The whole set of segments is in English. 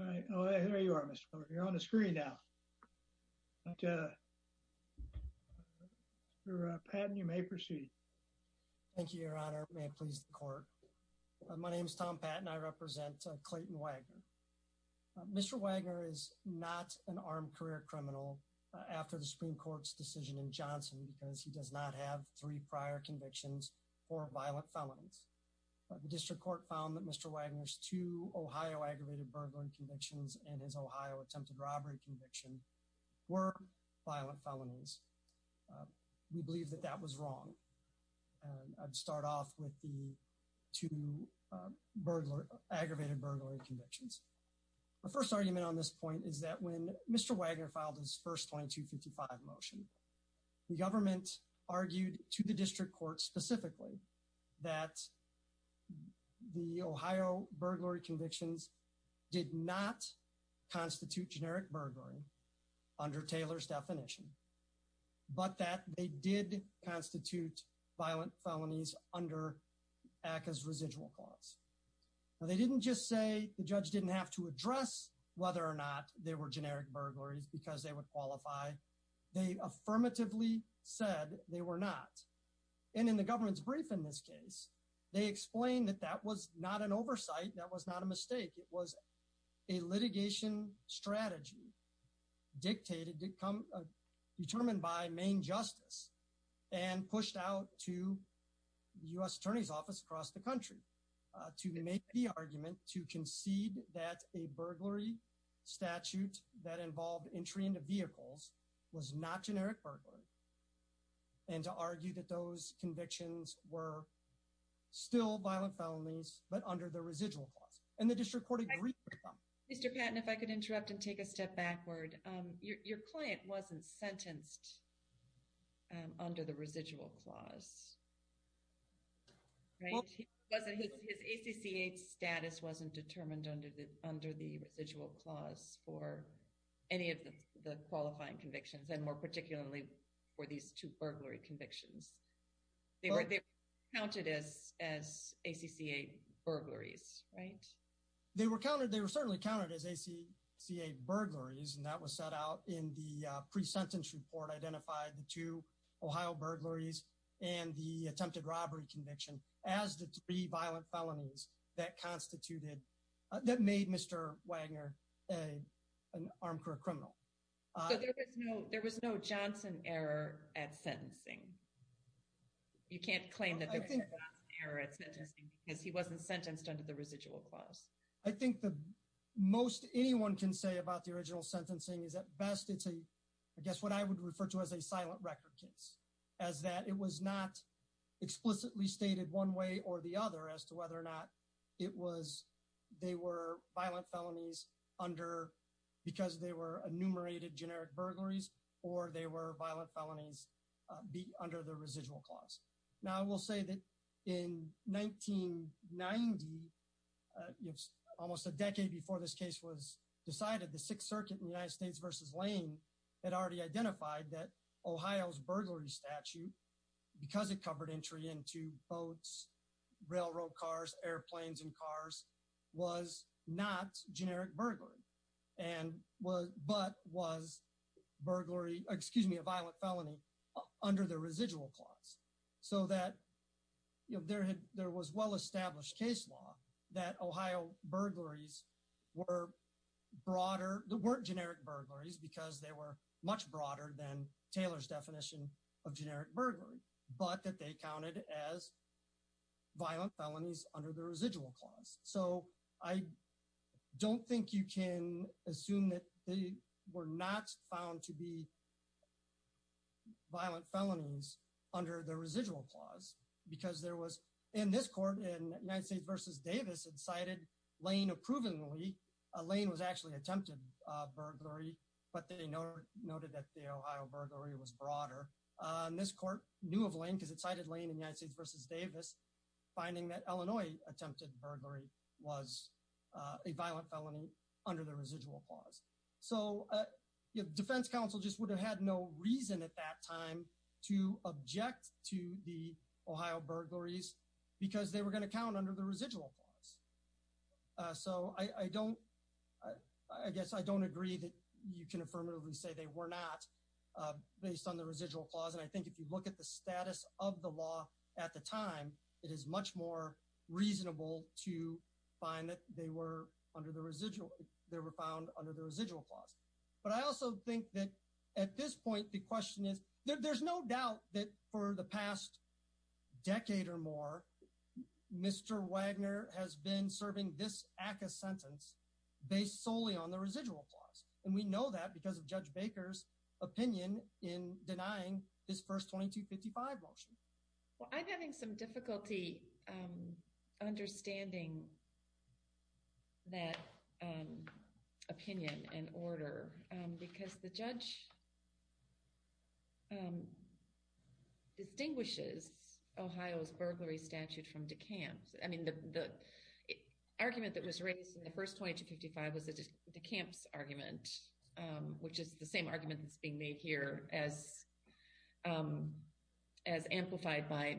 I know you're on the screen now. You're a pan you may proceed. Thank you your honor please court. My name is Tom Pat and I represent Clayton Wagner. Mister Wagner is not an armed career criminal after the Supreme Court's decision in Johnson because he does not have 3 prior convictions or violent felonies. The district court found that Mr. Wagner's to Ohio aggravated burglary convictions and his Ohio attempted robbery conviction were violent felonies. We believe that that was wrong. I'd start off with the to burglar aggravated burglary convictions. The first argument on this point is that when Mister Wagner filed his first 2255 motion. The government argued to the district court specifically that. The Ohio burglary convictions did not constitute generic burglary under Taylor's definition. But that they did constitute violent felonies under act as residual costs. They didn't just say the judge didn't have to address whether or not they were affirmatively said they were not. And in the government's brief in this case. They explain that that was not an oversight that was not a mistake was a litigation strategy. Dictated to come determined by main justice and pushed out to us attorney's office across the country to make the argument to concede that a burglary. And to argue that those convictions were still violent felonies but under the residual costs and the district court. Mister Patton if I could interrupt and take a step backward. Your client wasn't sentenced. Under the residual class. Thank you wasn't it is a CCH status wasn't determined under the under the visual class for any of the qualifying convictions and more particularly for these 2 burglary convictions. Counted as as a CCA burglaries right. They were counted they were certainly counted as a C C a burglaries and that was set out in the pre sentence report identified to Ohio burglaries and the attempted robbery conviction as the 3 violent felonies that constituted that made Mister Wagner. An arm for a criminal. I know there was no Johnson error at sentencing. You can't claim that I think there is this thing is he wasn't sentenced under the residual class. I think the most anyone can say about the original sentencing is that best it's a guess what I would refer to as a silent record case as that it was not explicitly stated one way or the other as to whether or not it was they were violent felonies under because they were enumerated generic burglaries or they were violent felonies be under the residual class. Now we'll say that in 1990. Almost a decade before this case was decided the 6th Circuit United States versus Lane and already identified that Ohio's burglary statute because it covered entry into boats railroad cars airplanes and cars was not generic burglary and was but was burglary excuse me a violent felony under the residual class so that you know there had there was well established case law that Ohio burglaries were broader the word generic burglaries because they were much broader than Taylor's definition of generic burglary but that they counted as violent felonies under the residual class so I don't think you can assume that they were not found to be violent felonies under the residual class because there was in this court in United States versus Davis incited Lane approvingly Lane was actually attempted burglary but they know noted that the Ohio burglary was broader on this court new of Lane because it cited Lane in United States versus Davis finding that Illinois attempted burglary was a violent felony under the residual class so defense counsel just would have had no reason at that time to object to the Ohio burglaries because they were going to count under the residual class so I guess I don't agree that you can affirmatively say they were not based on the residual class and I think if you look at the status of the law at the time it is much more reasonable to find that they were under the residual they were found under the residual class but I also think that at this point the question is there's no doubt that for the past decade or more Mr. Wagner has been serving this ACA sentence based solely on the residual class and we know that because of Judge Baker's opinion in denying this first 2255 motion I'm having some difficulty understanding that opinion and order because the judge distinguishes Ohio's burglary statute from DeKalb's I mean the argument that was raised in the first 2255 was a DeKalb's argument which is the same argument that's being made here as as amplified by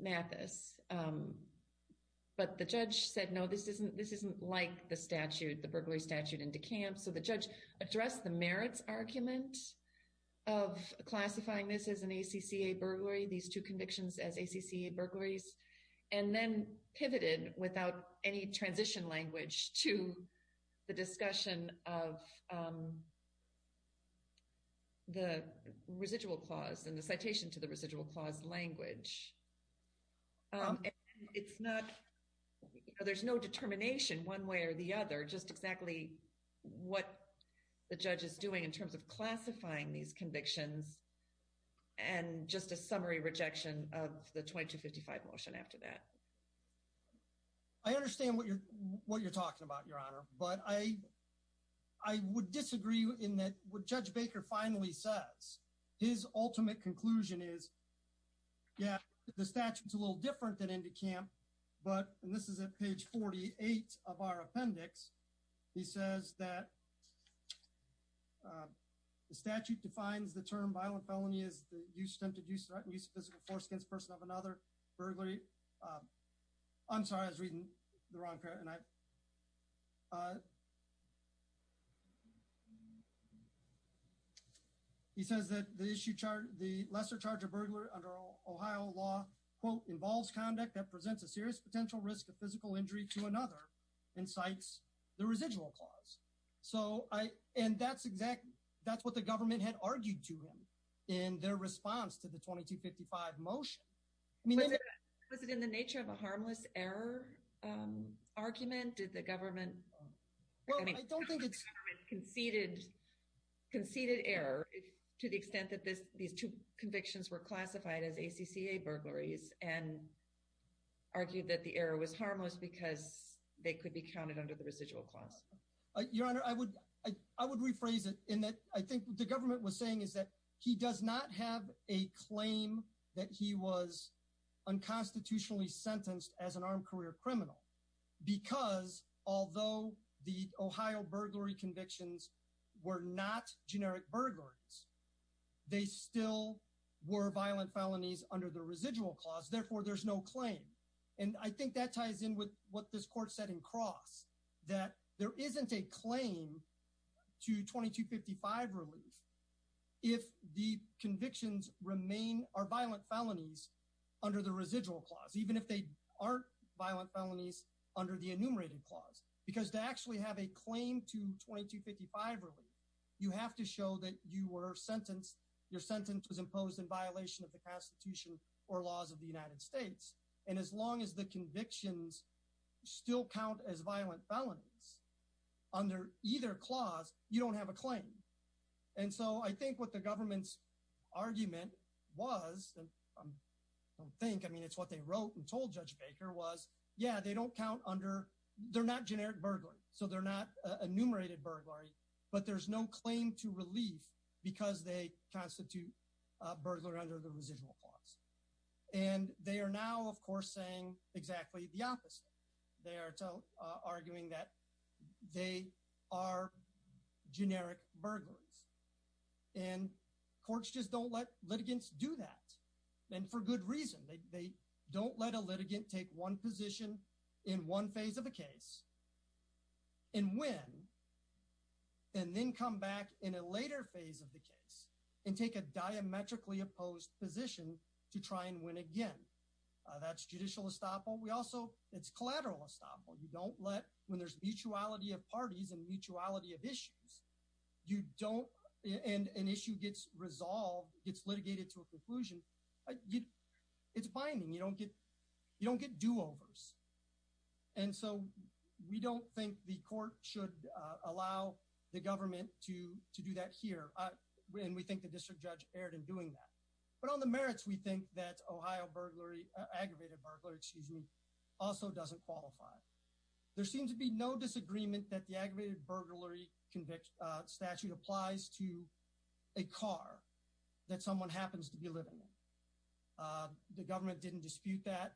Mathis but the judge said no this isn't this isn't like the statute the burglary statute in DeKalb so the judge addressed the merits argument of classifying this as an ACCA burglary these two convictions as ACCA burglaries and then pivoted without any transition language to the discussion of the residual clause and the citation to the residual clause language it's not there's no determination one way or the other just exactly what the judge is doing in terms of classifying these convictions and just a summary rejection of the 2255 motion after that I understand what you're what you're talking about your honor but I I would disagree in that what Judge Baker finally says his ultimate conclusion is yeah the statute it's a little different than in DeKalb but and this is at page 48 of our appendix he says that the statute defines the term violent felony is the use of physical force against person of another burglary I'm sorry I was reading the wrong and I he says that the issue chart the lesser charge of Ohio law quote involves conduct that presents a serious potential risk of physical injury to another incites the residual clause so I and that's exactly that's what the government had argued to him in their response to the 2255 motion I mean was it in the nature of a harmless error argument did the government conceded conceded error to the extent that this these two burglaries and argued that the error was harmless because they could be counted under the residual class your honor I would I would rephrase it in that I think the government was saying is that he does not have a claim that he was unconstitutionally sentenced as an armed career criminal because although the Ohio burglary convictions were not generic burglaries they still were under the residual clause therefore there's no claim and I think that ties in with what this court said in cross that there isn't a claim to 2255 relief if the convictions remain are violent felonies under the residual clause even if they aren't violent felonies under the enumerated clause because they actually have a claim to 2255 relief you have to show that you were sentenced your sentence was imposed in violation of the Constitution or laws of the United States and as long as the convictions still count as violent felonies under either clause you don't have a claim and so I think what the government's argument was I don't think I mean it's what they wrote and told Judge Baker was yeah they don't count under they're not generic burglary so they're not enumerated burglary but there's no claim to relief because they constitute burglar under the residual clause and they are now of course saying exactly the opposite they are so arguing that they are generic burglaries and courts just don't let litigants do that and for good reason they don't let a litigant take one position in one phase of the case and win and then come back in a later phase of the case and take a diametrically opposed position to try and win again that's judicial estoppel we also it's collateral estoppel you don't let when there's mutuality of parties and mutuality of issues you don't and an issue gets resolved gets litigated to a conclusion it's binding you don't get you don't get do-overs and so we don't think the court should allow the government to to do that here when we think the district judge erred in doing that but on the merits we think that Ohio burglary aggravated burglary excuse me also doesn't qualify there seems to be no disagreement that the aggravated burglary conviction statute applies to a car that someone happens to be living in the government didn't dispute that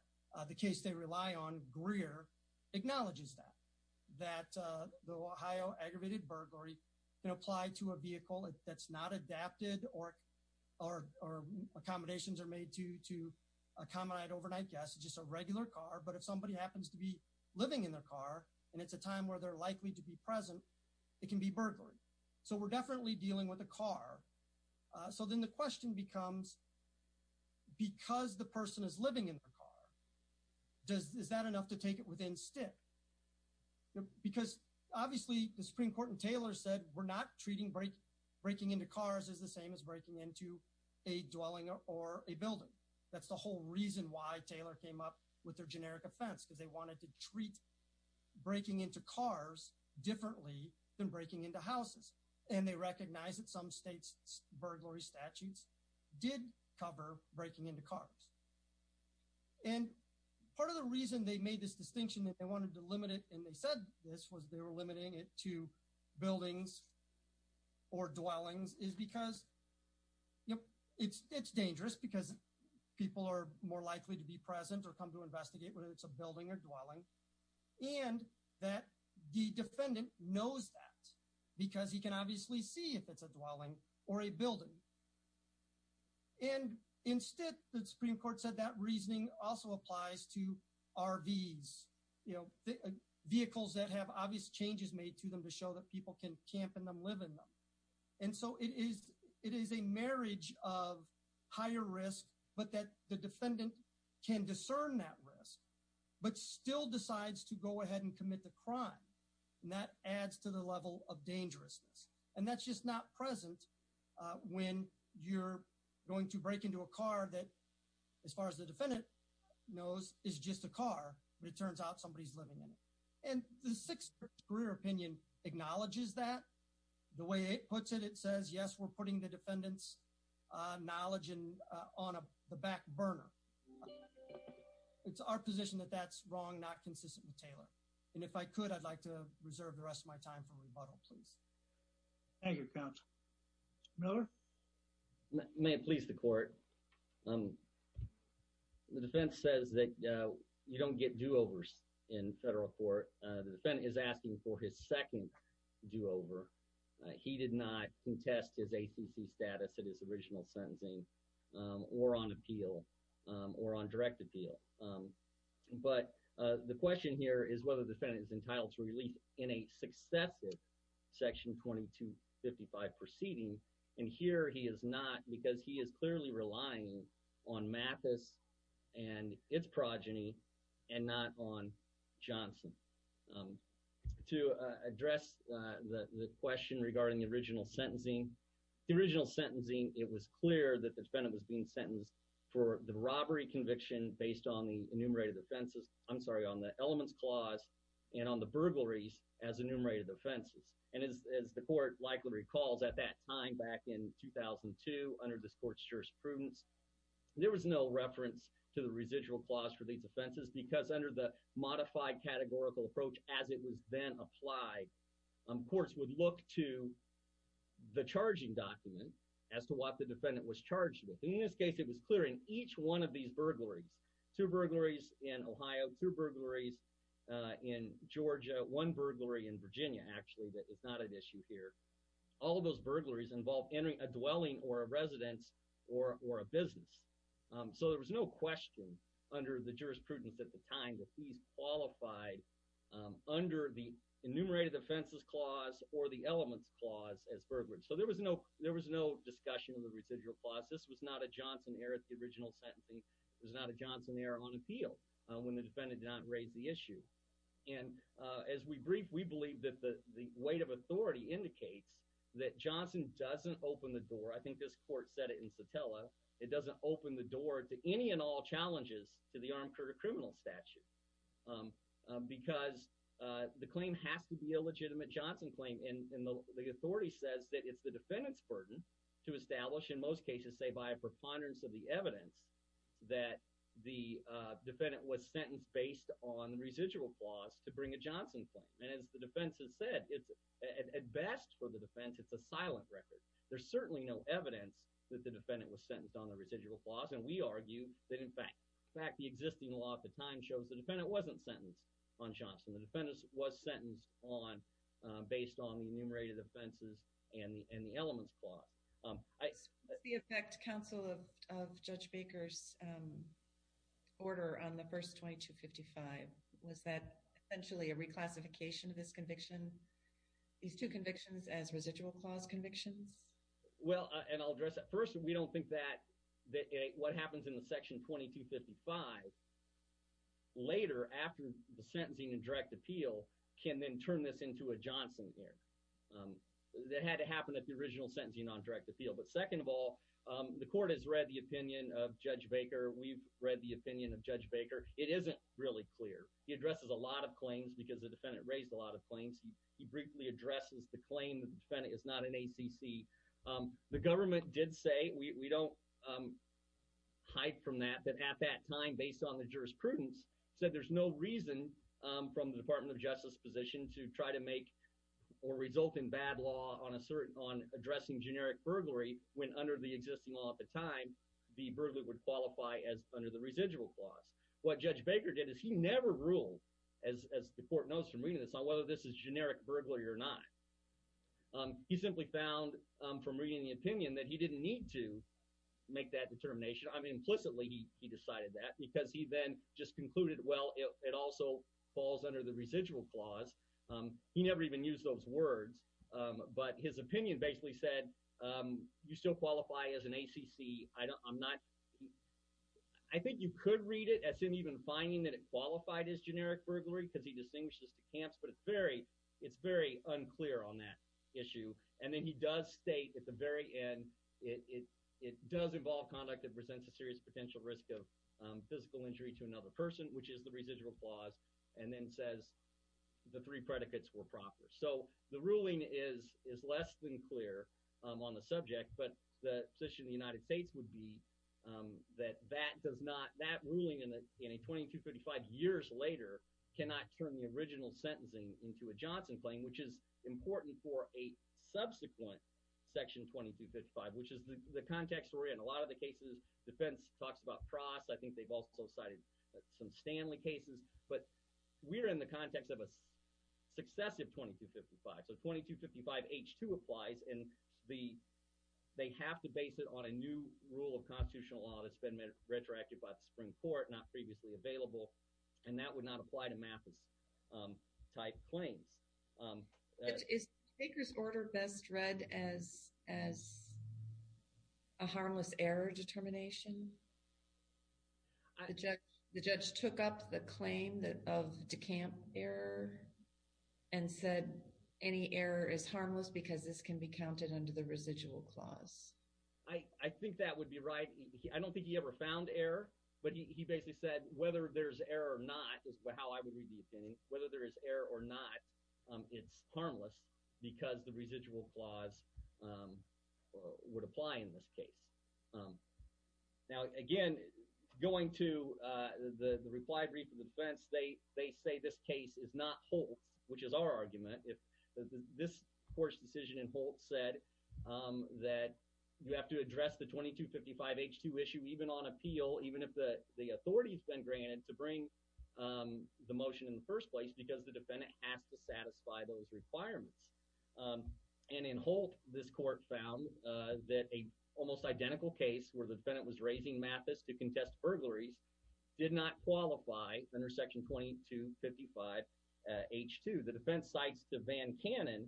the case they rely on acknowledges that the Ohio aggravated burglary can apply to a vehicle that's not adapted or or accommodations are made to to accommodate overnight guests just a regular car but if somebody happens to be living in their car and it's a time where they're likely to be present it can be burglary so we're definitely dealing with a car so then the question becomes because the person is living in the car does is that enough to take it within stick because obviously the Supreme Court and Taylor said we're not treating break breaking into cars is the same as breaking into a dwelling or a building that's the whole reason why Taylor came up with their generic offense because they wanted to treat breaking into cars differently than breaking into houses and they and part of the reason they made this distinction that they wanted to limit it and they said this was they were limiting it to buildings or dwellings is because yep it's it's dangerous because people are more likely to be present or come to investigate whether it's a building or dwelling and that the defendant knows that because he can obviously see if it's a dwelling or a building and instead the Supreme Court said that reasoning also applies to RVs you know vehicles that have obvious changes made to them to show that people can camp in them live in them and so it is it is a marriage of higher risk but that the defendant can discern that risk but still decides to go ahead and commit the crime and that adds to the level of dangerousness and that's just not present when you're going to break into a car that as far as the defendant knows is just a car but it turns out somebody's living in it and the sixth career opinion acknowledges that the way it puts it it says yes we're putting the defendants knowledge in on a back burner it's our position that that's wrong not consistent with Taylor and if I could I'd like to reserve the rest of my time Thank You couch Miller may it please the court um the defense says that you don't get do-overs in federal court the defendant is asking for his second do-over he did not contest his ACC status at his original sentencing or on appeal or on direct appeal but the question here is whether the defendant is entitled to in a successive section 2255 proceeding and here he is not because he is clearly relying on Mathis and its progeny and not on Johnson to address the question regarding the original sentencing the original sentencing it was clear that the defendant was being sentenced for the robbery conviction based on the elements clause and on the burglaries as enumerated offenses and as the court likely recalls at that time back in 2002 under this court's jurisprudence there was no reference to the residual clause for these offenses because under the modified categorical approach as it was then applied courts would look to the charging document as to what the defendant was charged with in this case it was clearing each one of these burglaries two burglaries in Ohio two burglaries in Georgia one burglary in Virginia actually that it's not an issue here all of those burglaries involve entering a dwelling or a residence or or a business so there was no question under the jurisprudence at the time that these qualified under the enumerated offenses clause or the elements clause as burglaries so there was no there was no discussion of the residual clause this was not a Johnson error at the original sentencing it was not a Johnson error on appeal when the defendant did not raise the issue and as we brief we believe that the the weight of authority indicates that Johnson doesn't open the door I think this court said it in Satella it doesn't open the door to any and all challenges to the armed criminal statute because the claim has to be a legitimate Johnson claim and the authority says that it's the defendant's burden to establish in most cases say by a preponderance of the defendant was sentenced based on the residual clause to bring a Johnson claim and as the defense has said it's at best for the defense it's a silent record there's certainly no evidence that the defendant was sentenced on the residual clause and we argue that in fact in fact the existing law at the time shows the defendant wasn't sentenced on Johnson the defendants was sentenced on based on the enumerated offenses and the and the elements clause the effect counsel of order on the first 255 was that actually a reclassification of this conviction these two convictions as residual clause convictions well and I'll address at first we don't think that what happens in the section 2255 later after the sentencing and direct appeal can then turn this into a Johnson here that had to happen at the original sentencing on direct appeal but second of all the court has read the opinion of Judge Baker we've read the opinion of Judge Baker it isn't really clear he addresses a lot of claims because the defendant raised a lot of claims he briefly addresses the claim the defendant is not an ACC the government did say we don't hide from that but at that time based on the jurisprudence said there's no reason from the Department of Justice position to try to make or result in bad law on a certain on addressing generic burglary when under the existing law at the time the burglary would qualify as under the residual clause what Judge Baker did is he never ruled as the court knows from reading this on whether this is generic burglary or not he simply found from reading the opinion that he didn't need to make that determination I mean implicitly he decided that because he then just concluded well it also falls under the residual clause he never even used those words but his opinion basically said you still qualify as an ACC I don't I'm not I think you could read it as him even finding that it qualified as generic burglary because he distinguishes two camps but it's very it's very unclear on that issue and then he does state at the very end it it does involve conduct that presents a serious potential risk of physical injury to another person which is the residual clause and then says the three predicates were proper so the ruling is is less than clear on the subject but the position the United States would be that that does not that ruling in it in a 2255 years later cannot turn the original sentencing into a Johnson claim which is important for a subsequent section 2255 which is the context or in a lot of the cases defense talks about frost I think they've also cited some Stanley cases but we're in the context of a successive 2255 so 2255 h2 applies and the they have to base it on a new rule of constitutional law that's been made retroactive by the Supreme Court not previously available and that would not apply to math as type claims order best read as as a harmless error determination the judge took up the claim that of the camp error and said any error is harmless because this can be counted under the residual clause I think that would be right I don't think he ever found error but he basically said whether there's error or not is how I would read the opinion whether there is error or not it's harmless because the residual clause would apply in this case now again going to the the replied read for the defense they they say this case is not whole which is our argument if this course decision in Holtz said that you have to address the 2255 h2 issue even on appeal even if the the authorities been granted to bring the motion in the first place because the defendant has to satisfy those requirements and in Holtz this court found that a almost identical case where the defendant was raising Mathis to contest burglaries did not qualify under section 2255 h2 the defense cites to Van Cannon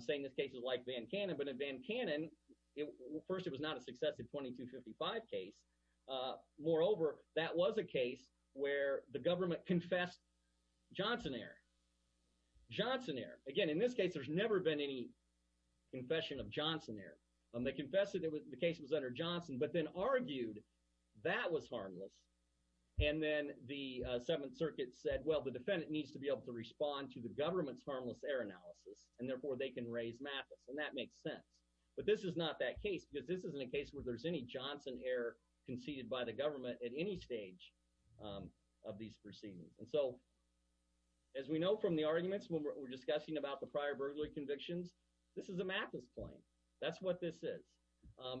saying this case is like Van Cannon but in Van Cannon it first it was not a successive 2255 case moreover that was a case where the government confessed Johnson air Johnson air again in this case there's never been any confession of Johnson air and they confessed it was the case was under Johnson but then argued that was harmless and then the Seventh Circuit said well the defendant needs to be able to respond to the government's harmless air analysis and therefore they can raise Mathis and that makes sense but this is not that case because this isn't a case where there's any Johnson air conceded by the government at any stage of these proceedings and so as we know from the arguments when we're discussing about the prior burglary convictions this is a Mathis claim that's what this is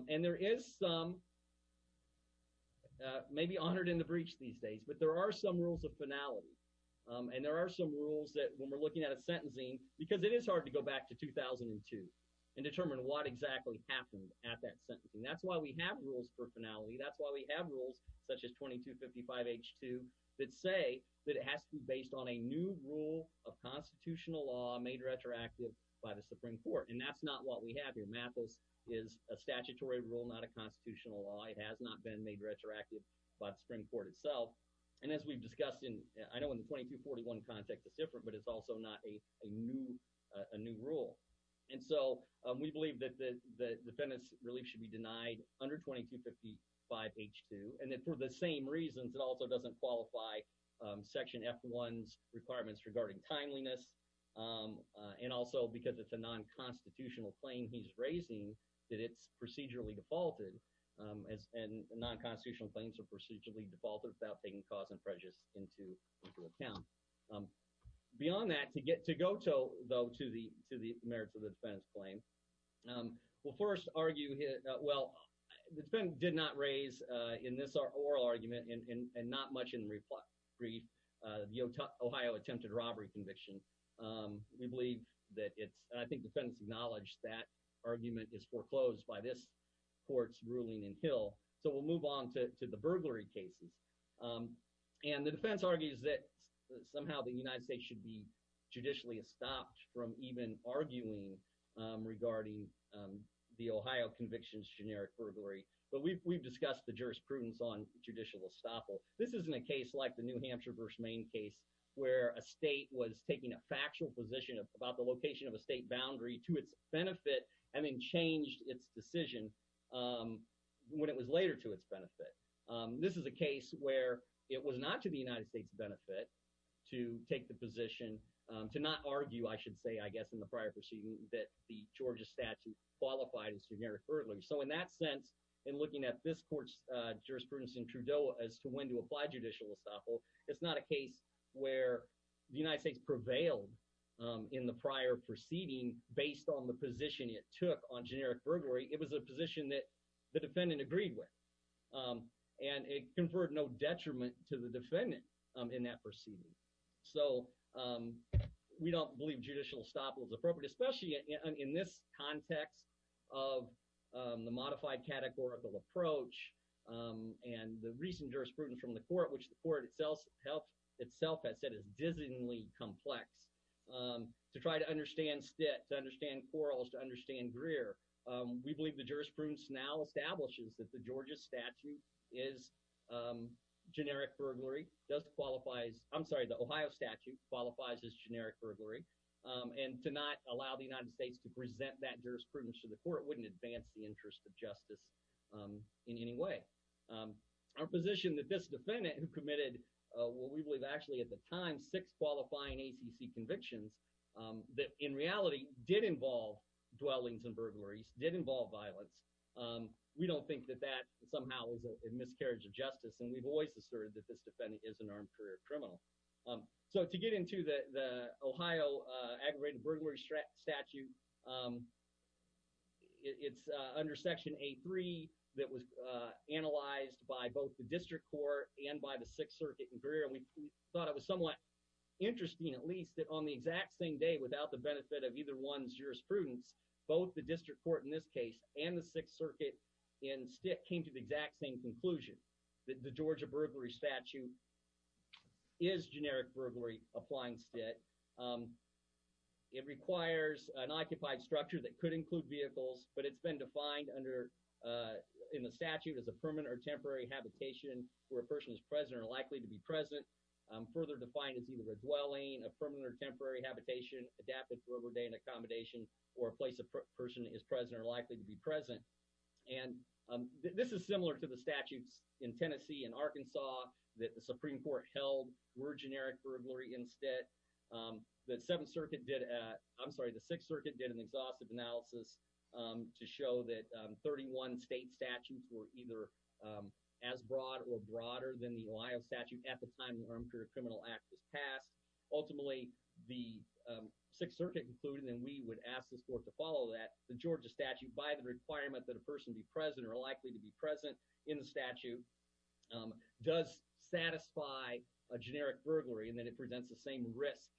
and there is some may be honored in the breach these days but there are some rules of finality and there are some rules that when we're looking at a sentencing because it is hard to go back to 2002 and determine what exactly happened at that sentencing that's why we have rules for finality that's why we have rules such as 2255 h2 that say that it has to be based on a new rule of constitutional law made retroactive by the Supreme Court and that's not what we have here Mathis is a statutory rule not a constitutional law it has not been made retroactive by the Supreme Court itself and as we've discussed in I know in the 2241 context it's different but it's also not a new a new rule and so we believe that the defendants relief should be denied under 2255 h2 and then for the same reasons it also doesn't qualify section f1's requirements regarding timeliness and also because it's a non-constitutional claim he's raising that it's procedurally defaulted as and non-constitutional claims are procedurally defaulted without taking cause and prejudice into account beyond that to get to go to though to the to the merits of the defense claim we'll first argue here well it's been did not raise in this our oral argument and not much in reply brief the Ohio attempted robbery conviction we believe that it's I think defense acknowledged that argument is foreclosed by this court's ruling in Hill so we'll move on to the burglary cases and the defense argues that somehow the United States should be judicially stopped from even arguing regarding the Ohio convictions generic burglary but we've discussed the jurisprudence on judicial estoppel this isn't a case like the New Hampshire vs. Maine case where a state was taking a factual position about the location of a state boundary to its benefit and then changed its decision when it was later to its benefit this is a case where it was not to the United States benefit to take the position to not argue I should say I guess in the prior proceeding that the Georgia statute qualified as generic burglary so in that sense in looking at this courts jurisprudence in Trudeau as to when to apply judicial estoppel it's not a case where the United States prevailed in the prior proceeding based on the position it took on generic burglary it was a position that the defendant agreed with and it conferred no detriment to the defendant in that proceeding so we don't believe judicial estoppel is appropriate especially in this context of the modified categorical approach and the recent jurisprudence from the court which the court itself helped itself has said is dizzyingly complex to try to understand stit to understand quarrels to understand Greer we believe the jurisprudence now establishes that the Georgia statute is generic burglary does qualifies I'm sorry the Ohio statute qualifies as generic burglary and to not allow the United States to present that jurisprudence to the court wouldn't advance the interest of justice in any way our position that this defendant who committed what we believe actually at the time six qualifying ACC convictions that in reality did involve dwellings and burglaries did involve violence we don't think that that somehow is a miscarriage of justice and we've always asserted that this defendant is an armed career criminal so to get into the Ohio aggravated burglary stretch statute it's under section a3 that was analyzed by both the district court and by the Sixth Circuit and career and we thought it was somewhat interesting at least that on the exact same day without the benefit of either one's jurisprudence both the district court in this case and the Sixth Circuit in stick came to the exact same conclusion the Georgia burglary statute is generic burglary applying state it requires an occupied structure that could include vehicles but it's been defined under in the statute as a permanent or temporary habitation where a person is present or likely to be present further defined as either a dwelling a permanent temporary habitation adapted for a day in accommodation or a place a person is present or likely to be present and this is similar to the statutes in Tennessee and Arkansas that the Supreme Court held were generic burglary instead that Seventh Circuit did at I'm sorry the Sixth Circuit did an exhaustive analysis to show that 31 state statutes were either as broad or broader than the Ohio statute at the time the Armed Career Criminal Act was passed ultimately the Sixth Circuit concluded and we would ask the sport to follow that the Georgia statute by the requirement that a present in the statute does satisfy a generic burglary and that it presents the same risk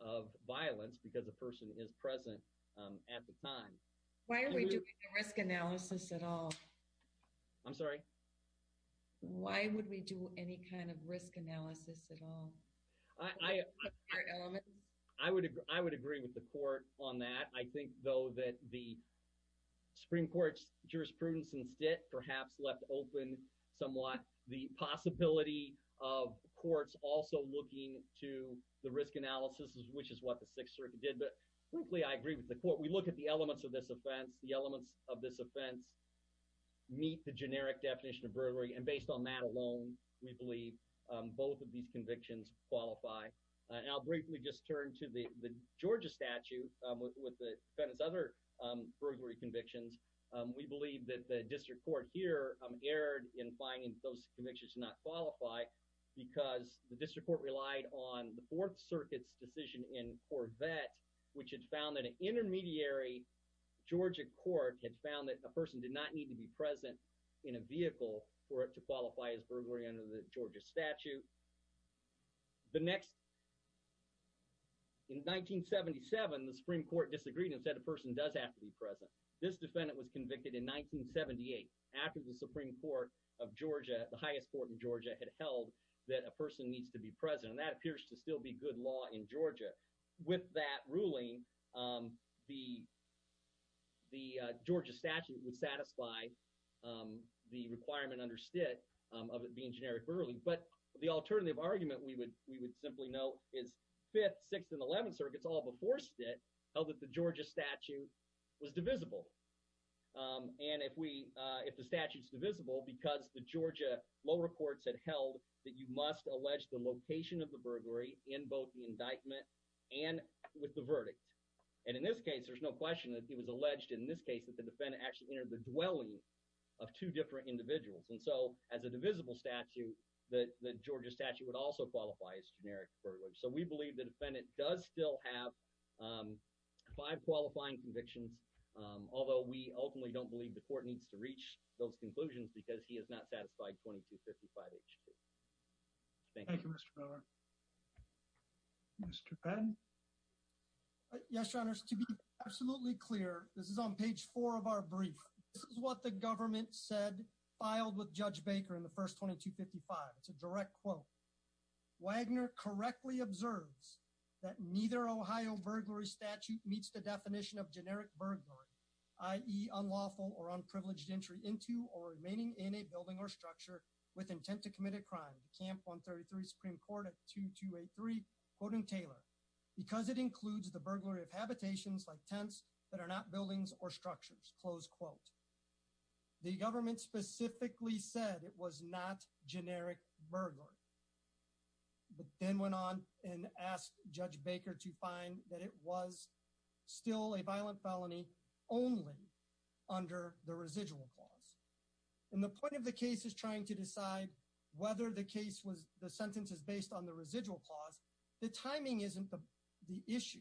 of violence because the person is present at the time why are we doing a risk analysis at all I'm sorry why would we do any kind of risk analysis at all I I would I would agree with the court on that I think though that the Supreme Court's jurisprudence instead perhaps left open somewhat the possibility of courts also looking to the risk analysis which is what the Sixth Circuit did but frankly I agree with the court we look at the elements of this offense the elements of this offense meet the generic definition of burglary and based on that alone we believe both of these convictions qualify and I'll burglary convictions we believe that the district court here erred in finding those convictions to not qualify because the district court relied on the Fourth Circuit's decision in Corvette which had found that an intermediary Georgia court had found that a person did not need to be present in a vehicle for it to qualify as burglary under the Georgia statute the next in 1977 the Supreme Court disagreed and said a person does have to be present this defendant was convicted in 1978 after the Supreme Court of Georgia the highest court in Georgia had held that a person needs to be present that appears to still be good law in Georgia with that ruling the the Georgia statute would satisfy the requirement understood of it being generic early but the alternative argument we would we would simply know is fifth sixth and eleventh circuits all before it held that the Georgia statute was divisible and if we if the statutes divisible because the Georgia lower courts had held that you must allege the location of the burglary in both the indictment and with the verdict and in this case there's no question that he was alleged in this case that the defendant actually entered the dwelling of two different individuals and so as a divisible statute that the Georgia statute would also qualify as generic so we believe the defendant does still have five qualifying convictions although we ultimately don't believe the court needs to reach those conclusions because he is not satisfied 2255 h2 mr. Ben yes your honor's to be absolutely clear this is on page 4 of our brief this is what the government said filed with judge we observe that neither Ohio burglary statute meets the definition of generic burglary i.e. unlawful or unprivileged entry into or remaining in a building or structure with intent to commit a crime camp 133 Supreme Court at 2283 quoting Taylor because it includes the burglary of habitations like tents that are not buildings or structures close quote the government specifically said it was not generic burglary then went on and asked judge Baker to find that it was still a violent felony only under the residual clause in the point of the case is trying to decide whether the case was the sentence is based on the residual clause the timing isn't the issue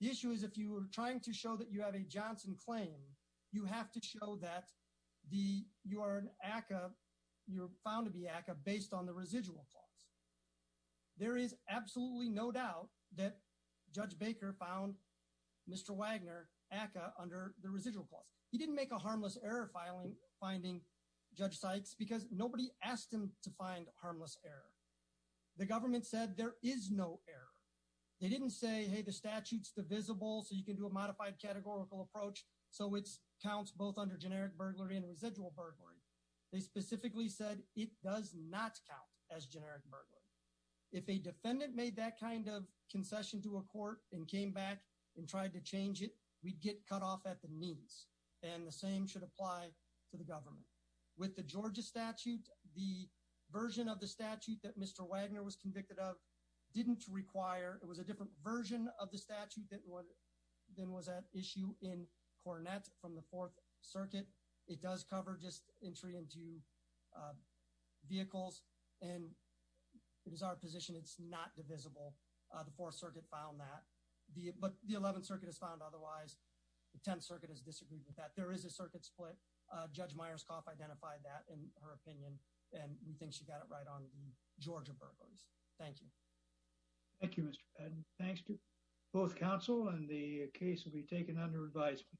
the issue is if you were trying to show that you have a Johnson claim you have to show that the you are an ACA you're found to be active based on the residual clause there is absolutely no doubt that judge Baker found mr. Wagner ACA under the residual clause he didn't make a harmless error filing finding judge Sykes because nobody asked him to find harmless error the government said there is no error they didn't say hey the statutes divisible so you can do a modified categorical approach so it's counts both under generic burglary and residual burglary they specifically said it does not count as generic burglary if a defendant made that kind of concession to a court and came back and tried to change it we'd get cut off at the knees and the same should apply to the government with the Georgia statute the version of the statute that mr. Wagner was convicted of didn't require it was a different version of the statute that would then was that issue in Cornett from the Fourth Circuit it does cover just entry into vehicles and it is our position it's not divisible the Fourth Circuit found that the but the Eleventh Circuit has found otherwise the Tenth Circuit has disagreed with that there is a circuit split judge Myers cough identified that in her opinion and we think she got it right on the Georgia burglars thank you thank you thanks to both counsel and the case will be taken under advisement